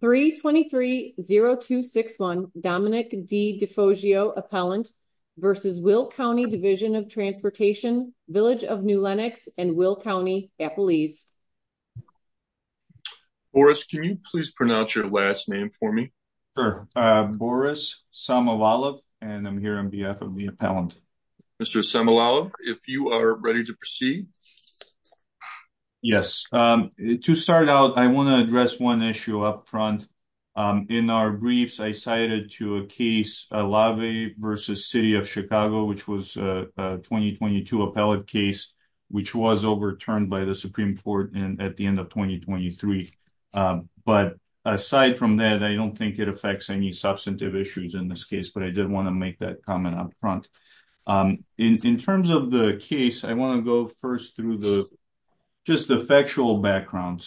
3-23-0261 Dominic D. DeFoggio, Appellant versus Will County Division of Transportation, Village of New Lenox and Will County, Appalese. Boris, can you please pronounce your last name for me? Sure, Boris Samovalov and I'm here on behalf of the appellant. Mr. Samovalov, if you are ready to proceed. Yes, to start out, I want to address one issue up front. In our briefs, I cited to a case, Lave versus City of Chicago, which was a 2022 appellate case, which was overturned by the Supreme Court at the end of 2023. But aside from that, I don't think it affects any substantive issues in this case, but I did want to make that comment up front. In terms of the case, I want to go first through just the factual background.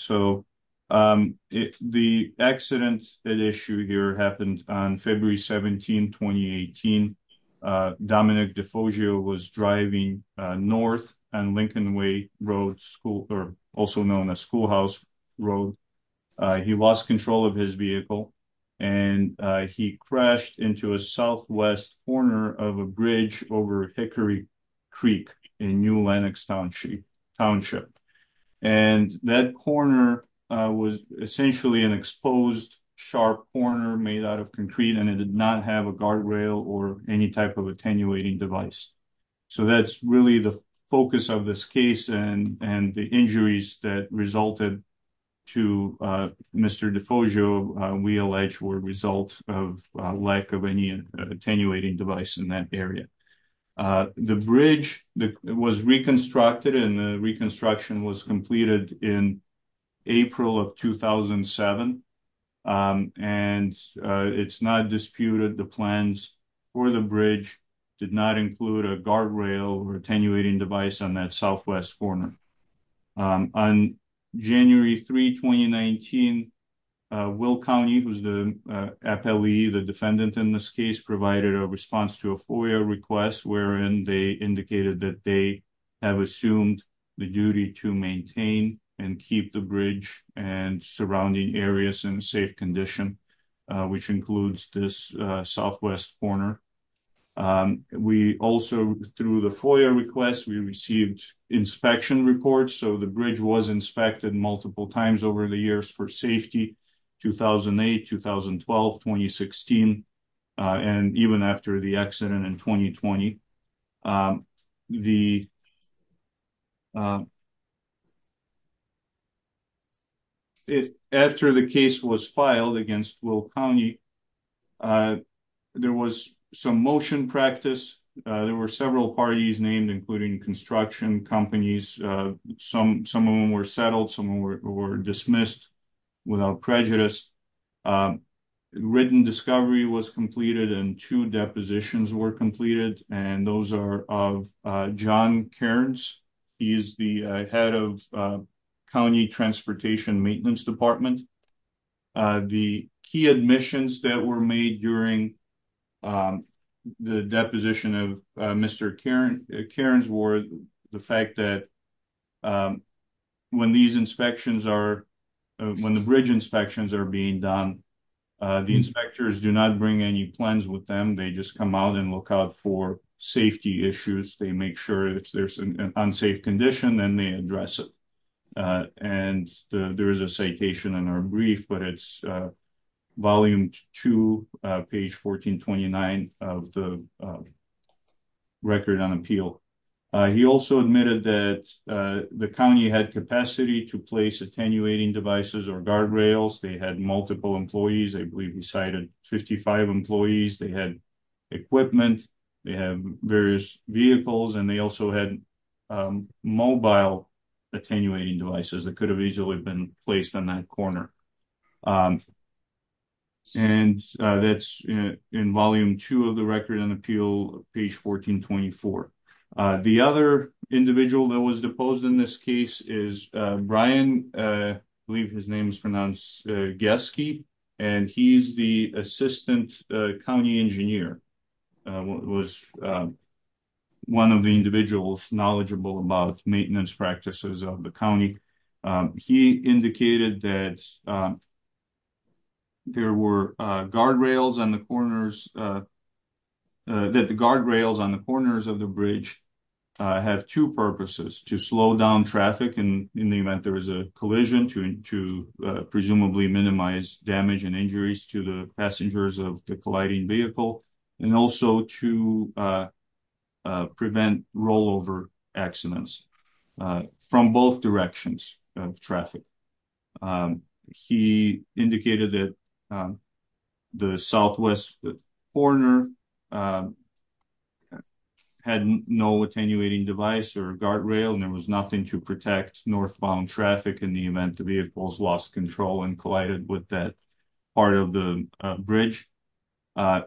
The accident at issue here happened on February 17, 2018. Dominic DeFoggio was driving north on Lincoln Way Road, also known as Schoolhouse Road. He lost control of his vehicle and he crashed into a southwest corner of a bridge over Hickory Creek in New Lenox Township. That corner was essentially an exposed sharp corner made out of concrete and it did not have a guardrail or any type of attenuating device. So that's really the focus of this case and the injuries that resulted to Mr. DeFoggio, we allege, were a result of lack of any attenuating device in that area. The bridge was reconstructed and the reconstruction was completed in April of 2007. And it's not disputed the plans for the bridge did not include a guardrail or attenuating device on that southwest corner. On January 3, 2019, Will County, who's the FLE, the defendant in this case, provided a response to a FOIA request wherein they indicated that they have assumed the duty to maintain and keep the bridge and surrounding areas in safe condition, which includes this southwest corner. We also, through the FOIA request, we received inspection reports, so the bridge was inspected multiple times over the years for safety, 2008, 2012, 2016, and even after the accident in 2020. After the case was filed against Will County, there was some motion practice. There were several parties named, including construction companies. Some of them were settled, some of them were dismissed without prejudice. A written discovery was completed and two depositions were completed. And those are of John Cairns, he's the head of County Transportation Maintenance Department. The key admissions that were made during the deposition of Mr. Cairns were the fact that when these inspections are, when the bridge inspections are being done, the inspectors do not bring any plans with them. They just come out and look out for safety issues. They make sure if there's an unsafe condition, then they address it. And there is a citation in our brief, but it's volume two, page 1429 of the record on appeal. He also admitted that the county had capacity to place attenuating devices or guardrails. They had multiple employees, I believe he cited 55 employees. They had equipment, they have various vehicles, and they also had mobile attenuating devices that could have easily been placed on that corner. And that's in volume two of the record on appeal, page 1424. The other individual that was deposed in this case is Brian, I believe his name is pronounced Geske, and he's the assistant county engineer, was one of the individuals knowledgeable about maintenance practices of the county. He indicated that there were guardrails on the corners, that the guardrails on the corners of the bridge have two purposes, to slow down traffic in the event there is a collision, to presumably minimize damage and injuries to the passengers of the colliding vehicle, and also to prevent rollover accidents from both directions of traffic. He indicated that the southwest corner had no attenuating device or guardrail, and there was nothing to protect northbound traffic in the event the vehicles lost control and collided with that part of the bridge.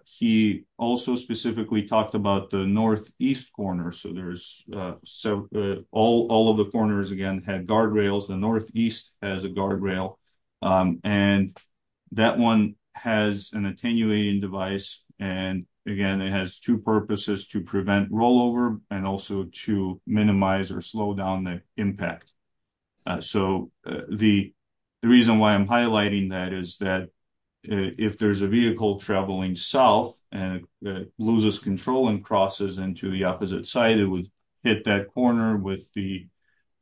He also specifically talked about the northeast corner, so there's, so all of the corners again had guardrails, the northeast has a guardrail, and that one has an attenuating device, and again it has two purposes, to prevent rollover and also to minimize or slow down the impact. So the reason why I'm highlighting that is that if there's a vehicle traveling south and it loses control and crosses into the opposite side, it hit that corner with the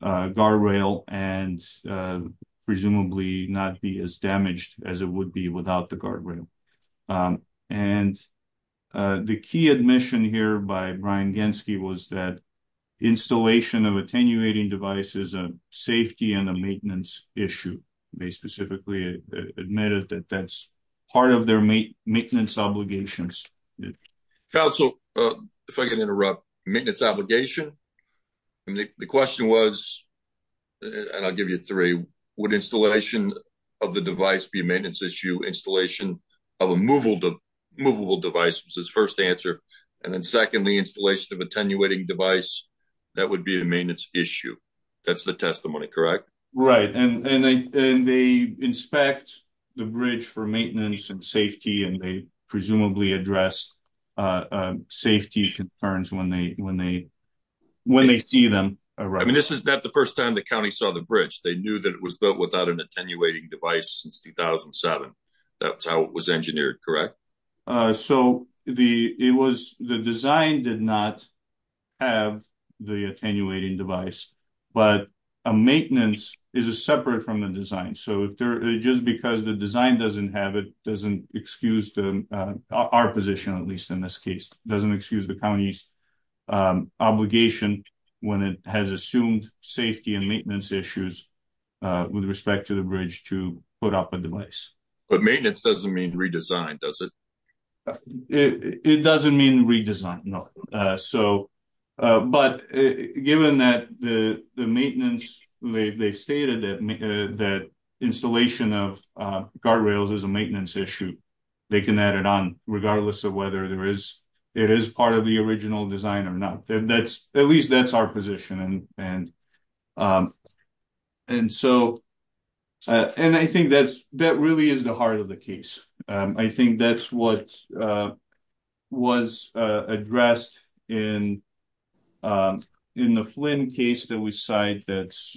guardrail and presumably not be as damaged as it would be without the guardrail. And the key admission here by Brian Genske was that installation of attenuating devices is a safety and a maintenance issue. They specifically admitted that that's part of maintenance obligations. Council, if I can interrupt, maintenance obligation? The question was, and I'll give you three, would installation of the device be a maintenance issue? Installation of a movable device was his first answer, and then secondly, installation of attenuating device, that would be a maintenance issue. That's the testimony, correct? Right, and they inspect the bridge for maintenance and safety, and they presumably address safety concerns when they see them. I mean, this is not the first time the county saw the bridge. They knew that it was built without an attenuating device since 2007. That's how it was engineered, correct? So the design did not have the attenuating device, but a maintenance is separate from the design. So just because the design doesn't have it, doesn't excuse our position, at least in this case, doesn't excuse the county's obligation when it has assumed safety and maintenance issues with respect to the bridge to put up a device. But maintenance doesn't mean redesign, does it? It doesn't mean redesign, no. But given that the maintenance, they stated that installation of guardrails is a maintenance issue, they can add it on regardless of whether it is part of the original design or not. At least that's our position. And so, and I think that really is the heart of the case. I think that's what was addressed in the Flynn case that we cite that's,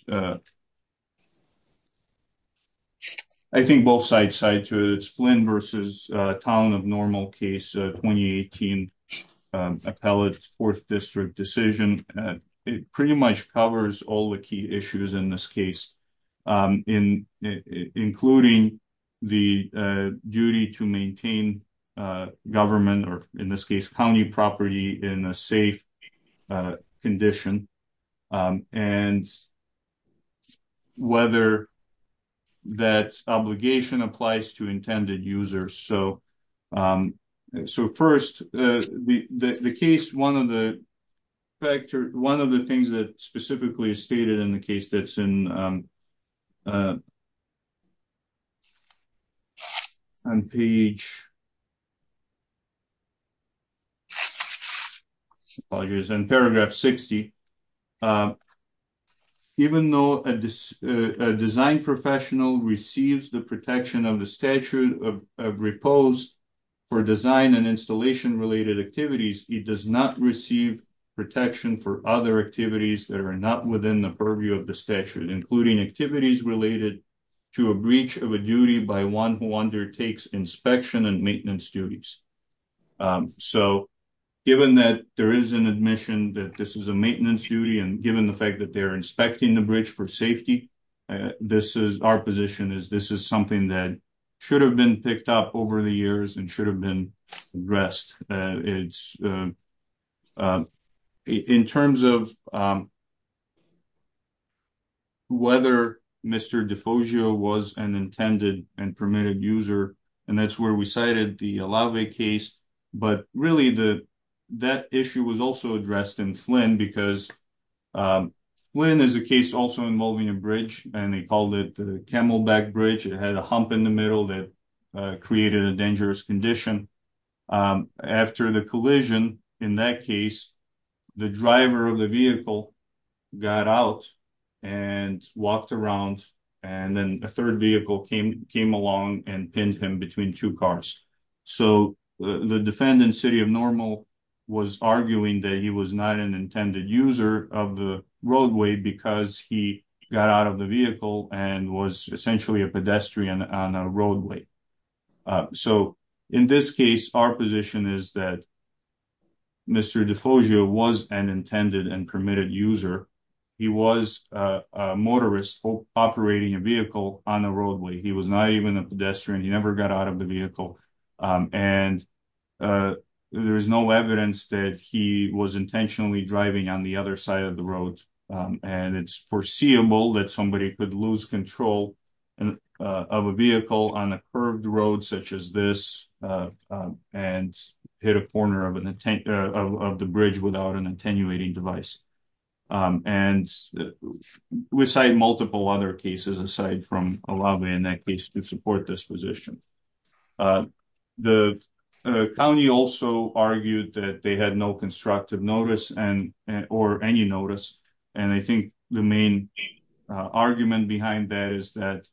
I think both sides side to it. It's Flynn versus Town of Normal case, 2018 Appellate Fourth District decision. It pretty much covers all the key issues in this case, including the duty to maintain government, or in this case, county property in a safe condition, and whether that obligation applies to intended users. So first, the case, one of the factors, one of the things that specifically is stated in the case that's in page 60. Even though a design professional receives the protection of the statute of repose for design and installation related activities, it does not receive protection for other activities that are not within the purview of the statute, including activities related to a breach of a duty by one who undertakes inspection and maintenance duties. So given that there is an admission that this is a maintenance duty, and given the fact that they're inspecting the bridge for safety, this is our position is this is something that should have been picked up over the years and should have been addressed. It's in terms of whether Mr. Defogio was an intended and permitted user, and that's where we cited the Alave case, but really that issue was also addressed in Flynn because Flynn is a case also involving a bridge, and they called it the Camelback Bridge. It had a hump in the middle that created a dangerous condition. After the collision in that case, the driver of the vehicle got out and walked around, and then a third vehicle came along and pinned him between two cars. So the defendant, City of Normal, was arguing that he was not an user of the roadway because he got out of the vehicle and was essentially a pedestrian on a roadway. So in this case, our position is that Mr. Defogio was an intended and permitted user. He was a motorist operating a vehicle on the roadway. He was not even a pedestrian. He never got out of the vehicle, and there is no evidence that he was intentionally driving on the other side of the road. It's foreseeable that somebody could lose control of a vehicle on a curved road such as this and hit a corner of the bridge without an attenuating device. We cite multiple other cases aside from Alave in that case to support this position. The county also argued that they had no constructive notice or any notice, and I think the main argument behind that is that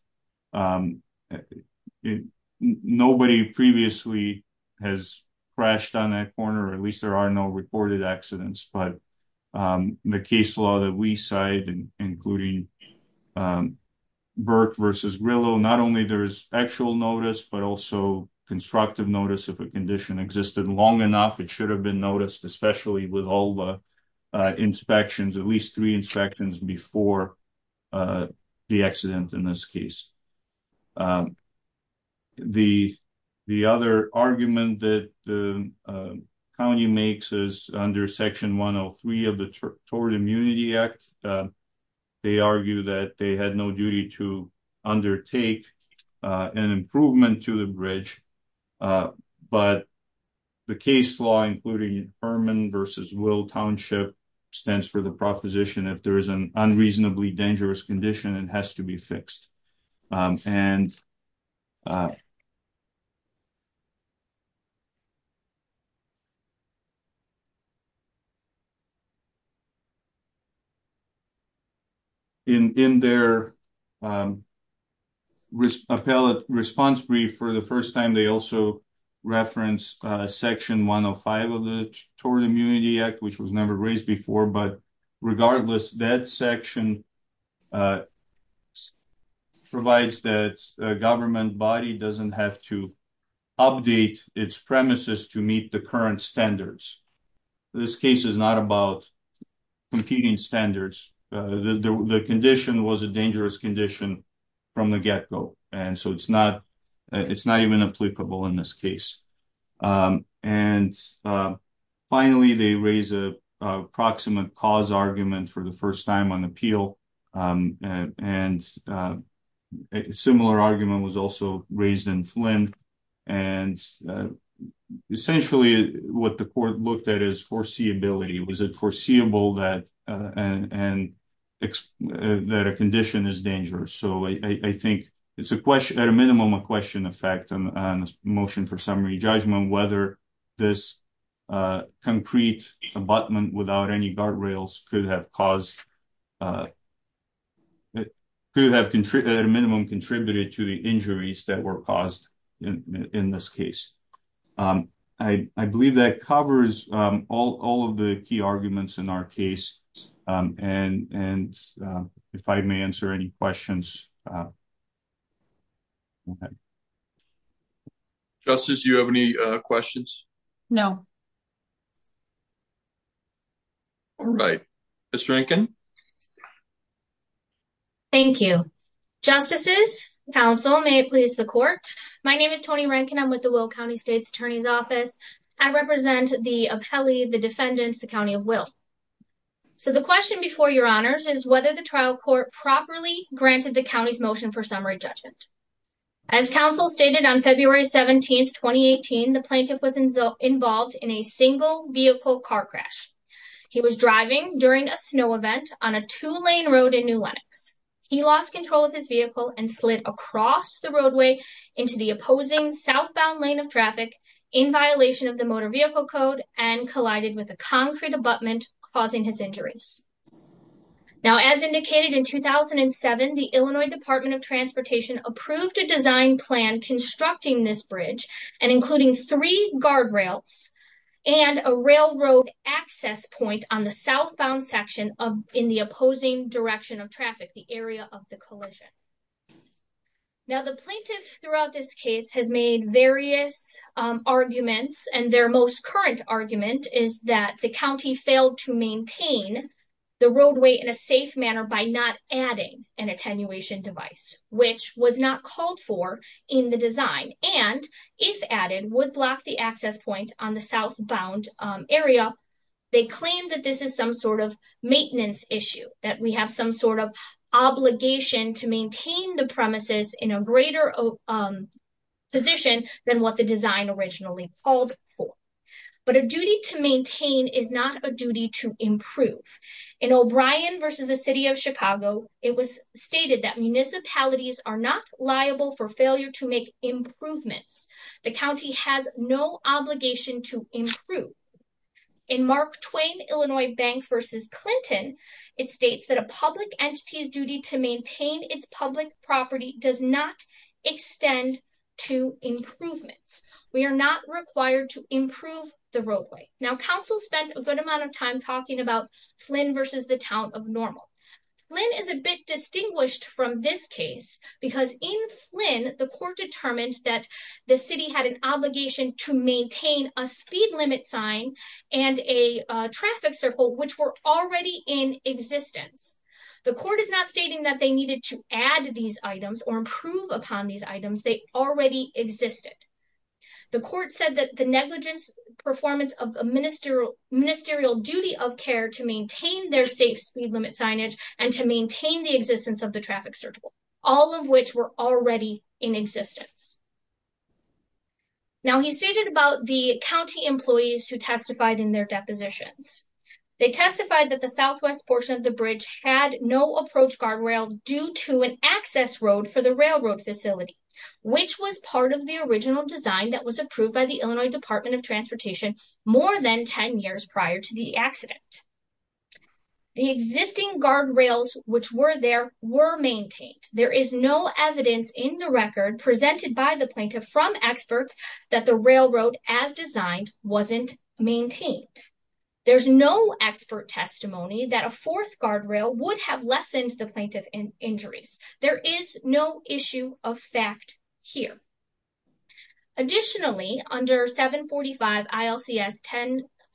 nobody previously has crashed on that corner, or at least there are no reported accidents, but the case law that we cite, including Burke versus Grillo, not only there is actual notice, but also constructive notice if a condition existed long enough, it should have been noticed, especially with all the inspections, at least three inspections before the accident in this case. The other argument that the county makes is under section 103 of the Tort Immunity Act. They argue that they had no duty to undertake an improvement to the bridge, but the case law, including Furman versus Will Township, stands for the proposition if there is an unreasonably dangerous condition, it has to be fixed. In their appellate response brief for the first time, they also reference section 105 of the Tort Immunity Act, which was never raised before, but regardless, that section provides that a government body doesn't have to update its premises to meet the current standards. This case is not about competing standards. The condition was a dangerous condition from the get-go, and so it's not even applicable in this case. Finally, they raise a proximate cause argument for the first time on appeal, and a similar argument was also raised in Flint. Essentially, what the court looked at is foreseeability. Was it foreseeable that a condition is dangerous? I think it's at a minimum a question of fact and a motion for summary judgment whether this concrete abutment without any guardrails could have at a minimum contributed to the injuries that were caused in this case. I believe that covers all of the key arguments in our case, and if I may answer any questions. Justice, do you have any questions? No. All right. Ms. Rankin. Thank you. Justices, counsel, may it please the court. My name is Toni Rankin. I'm with the Will County State's Attorney's Office. I represent the appellee, the defendants, the county of Will. So the question before your honors is whether the trial court properly granted the county's motion for summary judgment. As counsel stated on February 17th, 2018, the plaintiff was involved in a single-vehicle car crash. He was driving during a snow event on a two-lane road in New Lenox. He lost control of his vehicle and slid across the roadway into the opposing southbound lane of traffic in violation of the motor vehicle code and collided with a concrete abutment, causing his injuries. Now, as indicated in 2007, the Illinois Department of Transportation approved a design plan constructing this bridge and including three guardrails and a railroad access point on the southbound section in the opposing direction of traffic, the area of the collision. Now, the plaintiff throughout this has made various arguments, and their most current argument is that the county failed to maintain the roadway in a safe manner by not adding an attenuation device, which was not called for in the design, and if added, would block the access point on the southbound area. They claim that this is some sort of maintenance issue, that we have some sort of obligation to maintain the in a greater position than what the design originally called for. But a duty to maintain is not a duty to improve. In O'Brien v. The City of Chicago, it was stated that municipalities are not liable for failure to make improvements. The county has no obligation to improve. In Mark Twain, Illinois Bank v. Clinton, it states that a public entity's duty to maintain its public property does not extend to improvements. We are not required to improve the roadway. Now, counsel spent a good amount of time talking about Flynn v. The Town of Normal. Flynn is a bit distinguished from this case because in Flynn, the court determined that the city had an obligation to maintain a speed limit sign and a traffic circle, which were already in existence. The court is not stating that they needed to add these items or improve upon these items. They already existed. The court said that the negligence performance of a ministerial duty of care to maintain their safe speed limit signage and to maintain the existence of the traffic circle, all of which were already in existence. Now, he stated about the county bridge had no approach guardrail due to an access road for the railroad facility, which was part of the original design that was approved by the Illinois Department of Transportation more than 10 years prior to the accident. The existing guardrails, which were there, were maintained. There is no evidence in the record presented by the plaintiff from experts that the railroad as designed wasn't maintained. There's no expert testimony that a fourth guard rail would have lessened the plaintiff in injuries. There is no issue of fact here. Additionally, under 745 ILCS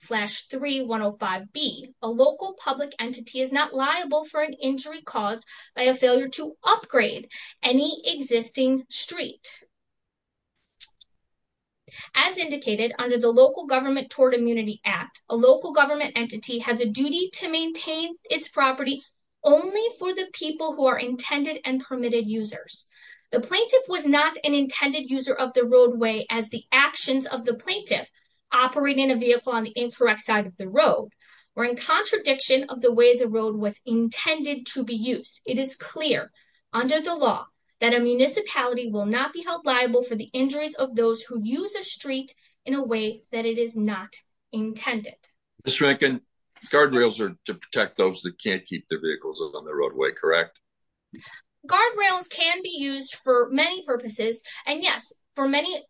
10-3105B, a local public entity is not liable for an injury caused by a failure to upgrade any existing street. As indicated under the Local Government Toward Immunity Act, a local government entity has a duty to maintain its property only for the people who are intended and permitted users. The plaintiff was not an intended user of the roadway as the actions of the plaintiff operating a vehicle on the incorrect side of the road were in contradiction of the way the road was intended to be used. It is clear under the law that a municipality will not be held liable for the injuries of those who use a street in a way that it is not intended. Mr. Rankin, guardrails are to protect those that can't keep their vehicles on the roadway, correct? Guardrails can be used for many purposes, and yes, for many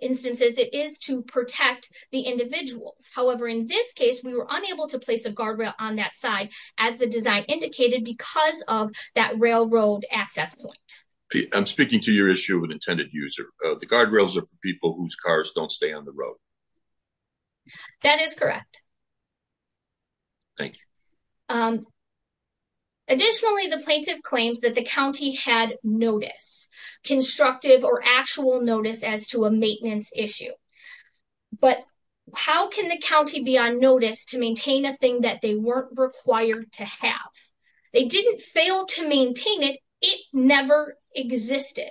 instances it is to protect the individuals. However, in this case we were unable to place a guardrail on that side as the design indicated because of that railroad access point. I'm speaking to your issue of an intended user. The guardrails are for people whose cars don't stay on the road. That is correct. Thank you. Additionally, the plaintiff claims that the county had notice, constructive or actual notice as to a maintenance issue. But how can the county be on notice to maintain a thing that they weren't required to have? They didn't fail to maintain it. It never existed.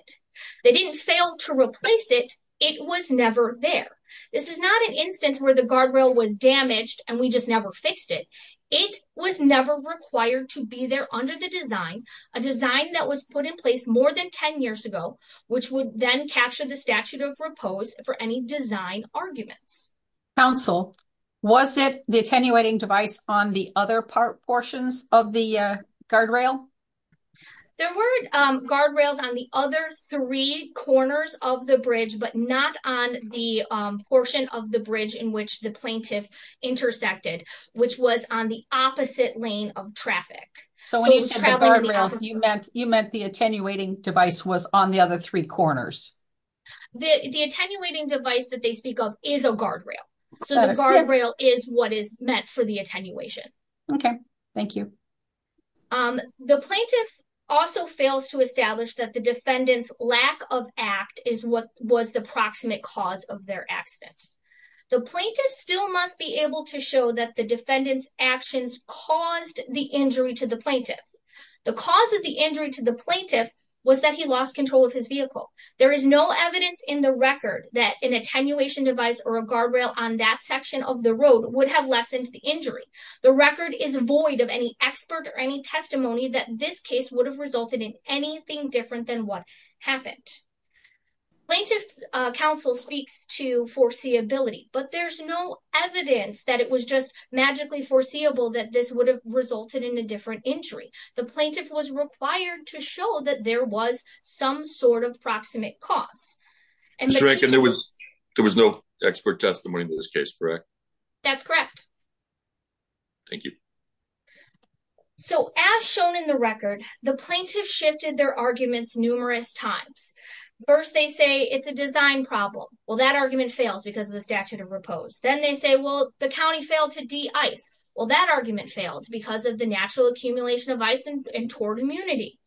They didn't fail to replace it. It was never there. This is not an instance where the guardrail was damaged and we just never fixed it. It was never required to be there under the design, a design that was put in place more than 10 years ago, which would then capture the statute of repose for any design arguments. Counsel, was it the attenuating device on the other portions of the guardrail? There were guardrails on the other three corners of the bridge, but not on the portion of the bridge in which the plaintiff intersected, which was on the opposite lane of traffic. So when you said the guardrail, you meant the attenuating device was on the other three corners? The attenuating device that they speak of is a guardrail. So the guardrail is what is meant for the attenuation. Okay, thank you. The plaintiff also fails to establish that the defendant's lack of act is what was the proximate cause of their accident. The plaintiff still must be able to show that the defendant's actions caused the injury to the plaintiff. The cause of the injury to the plaintiff was that he lost control of his vehicle. There is no evidence in the record that an attenuation device or a guardrail on that section of the road would have lessened the injury. The record is void of any expert or any testimony that this case would have resulted in anything different than what happened. Plaintiff counsel speaks to foreseeability, but there's no evidence that it was just magically foreseeable that this would have resulted in a different injury. The there was some sort of proximate cause. There was no expert testimony in this case, correct? That's correct. Thank you. So as shown in the record, the plaintiff shifted their arguments numerous times. First, they say it's a design problem. Well, that argument fails because of the statute of repose. Then they say, well, the county failed to de-ice. Well, that argument failed because of the natural accumulation of ice and torrid immunity.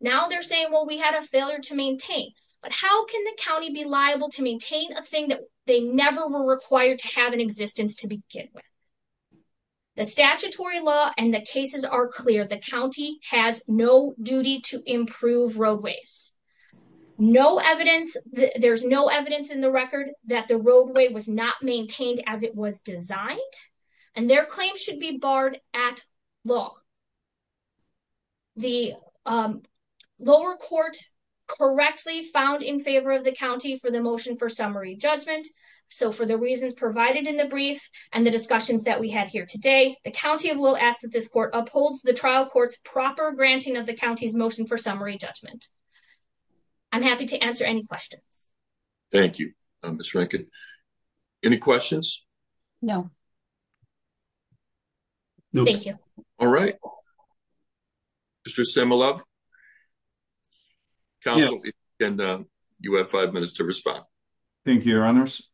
Now they're saying, well, we had a failure to maintain. But how can the county be liable to maintain a thing that they never were required to have in existence to begin with? The statutory law and the cases are clear. The county has no duty to improve roadways. No evidence, there's no evidence in the record that the roadway was not maintained as it was designed, and their claims should be barred at law. The lower court correctly found in favor of the county for the motion for summary judgment. So for the reasons provided in the brief and the discussions that we had here today, the county will ask that this court upholds the trial court's proper granting of the county's motion for summary judgment. I'm happy to answer any questions. Thank you, Ms. Rankin. Any questions? No. Thank you. All right. Mr. Stemelove, counsel, you have five minutes to respond. Thank you, your honors.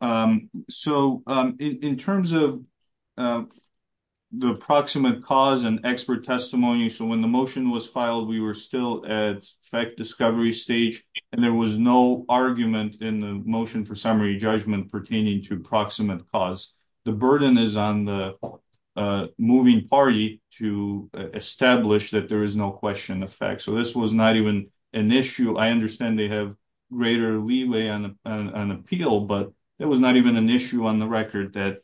So in terms of the approximate cause and expert testimony, so when the motion was filed, we were still at fact discovery stage, and there was no argument in the motion for summary judgment pertaining to approximate cause. The burden is on the moving party to establish that there is no question of fact. So this was not even an issue. I understand they have greater leeway on an appeal, but it was not even an issue on the record that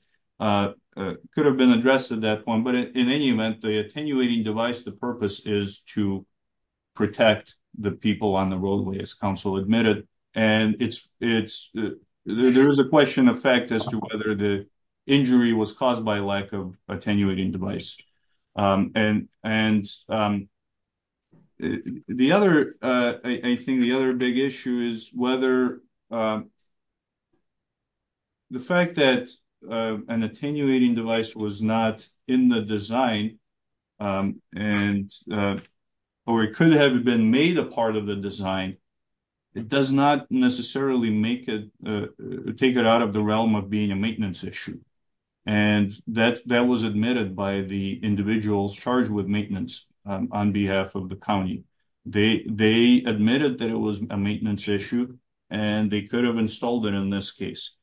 could have been addressed at that point. But in any event, the attenuating device, the purpose is to protect the people on the roadway, as counsel admitted. And there is a question of fact as to whether the injury was caused by lack of attenuating device. And I think the other big issue is whether the fact that an attenuating device was not in the design, or it could have been made a part of the design, it does not necessarily take it out of the realm of being a maintenance issue. And that was admitted by the individuals charged with maintenance on behalf of the county. They admitted that it was a maintenance issue, and they could have installed it in this case.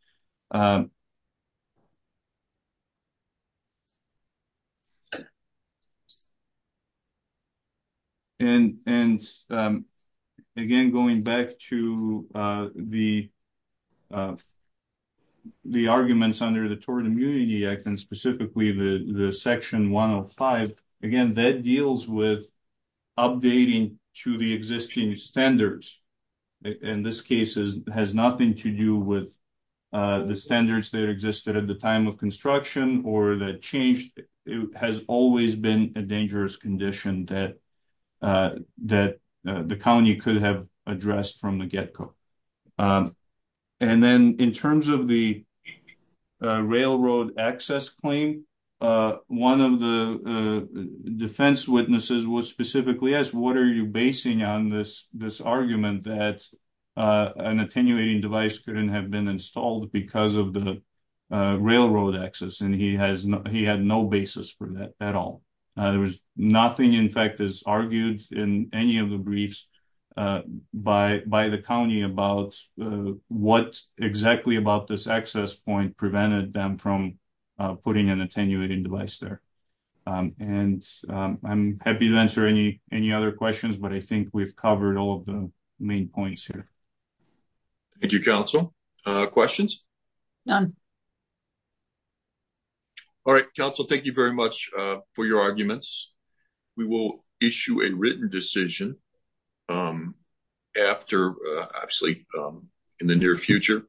And again, going back to the arguments under the Tourism Immunity Act, and specifically the section 105, again, that deals with updating to the existing standards. And this case has nothing to do with the standards that existed at the time of construction, or that changed. It has always been a dangerous condition that the county could have addressed from the get-go. And then in terms of the railroad access claim, one of the defense witnesses was specifically asked, what are you basing on this argument that an attenuating device couldn't have been installed because of the railroad access? And he had no basis for that at all. There was nothing, in fact, argued in any of the briefs by the county about what exactly about this access point prevented them from putting an attenuating device there. And I'm happy to answer any other questions, but I think we've covered all of the main points here. Thank you, Council. Questions? None. All right, Council, thank you very much for your arguments. We will issue a written decision after, actually, in the near future.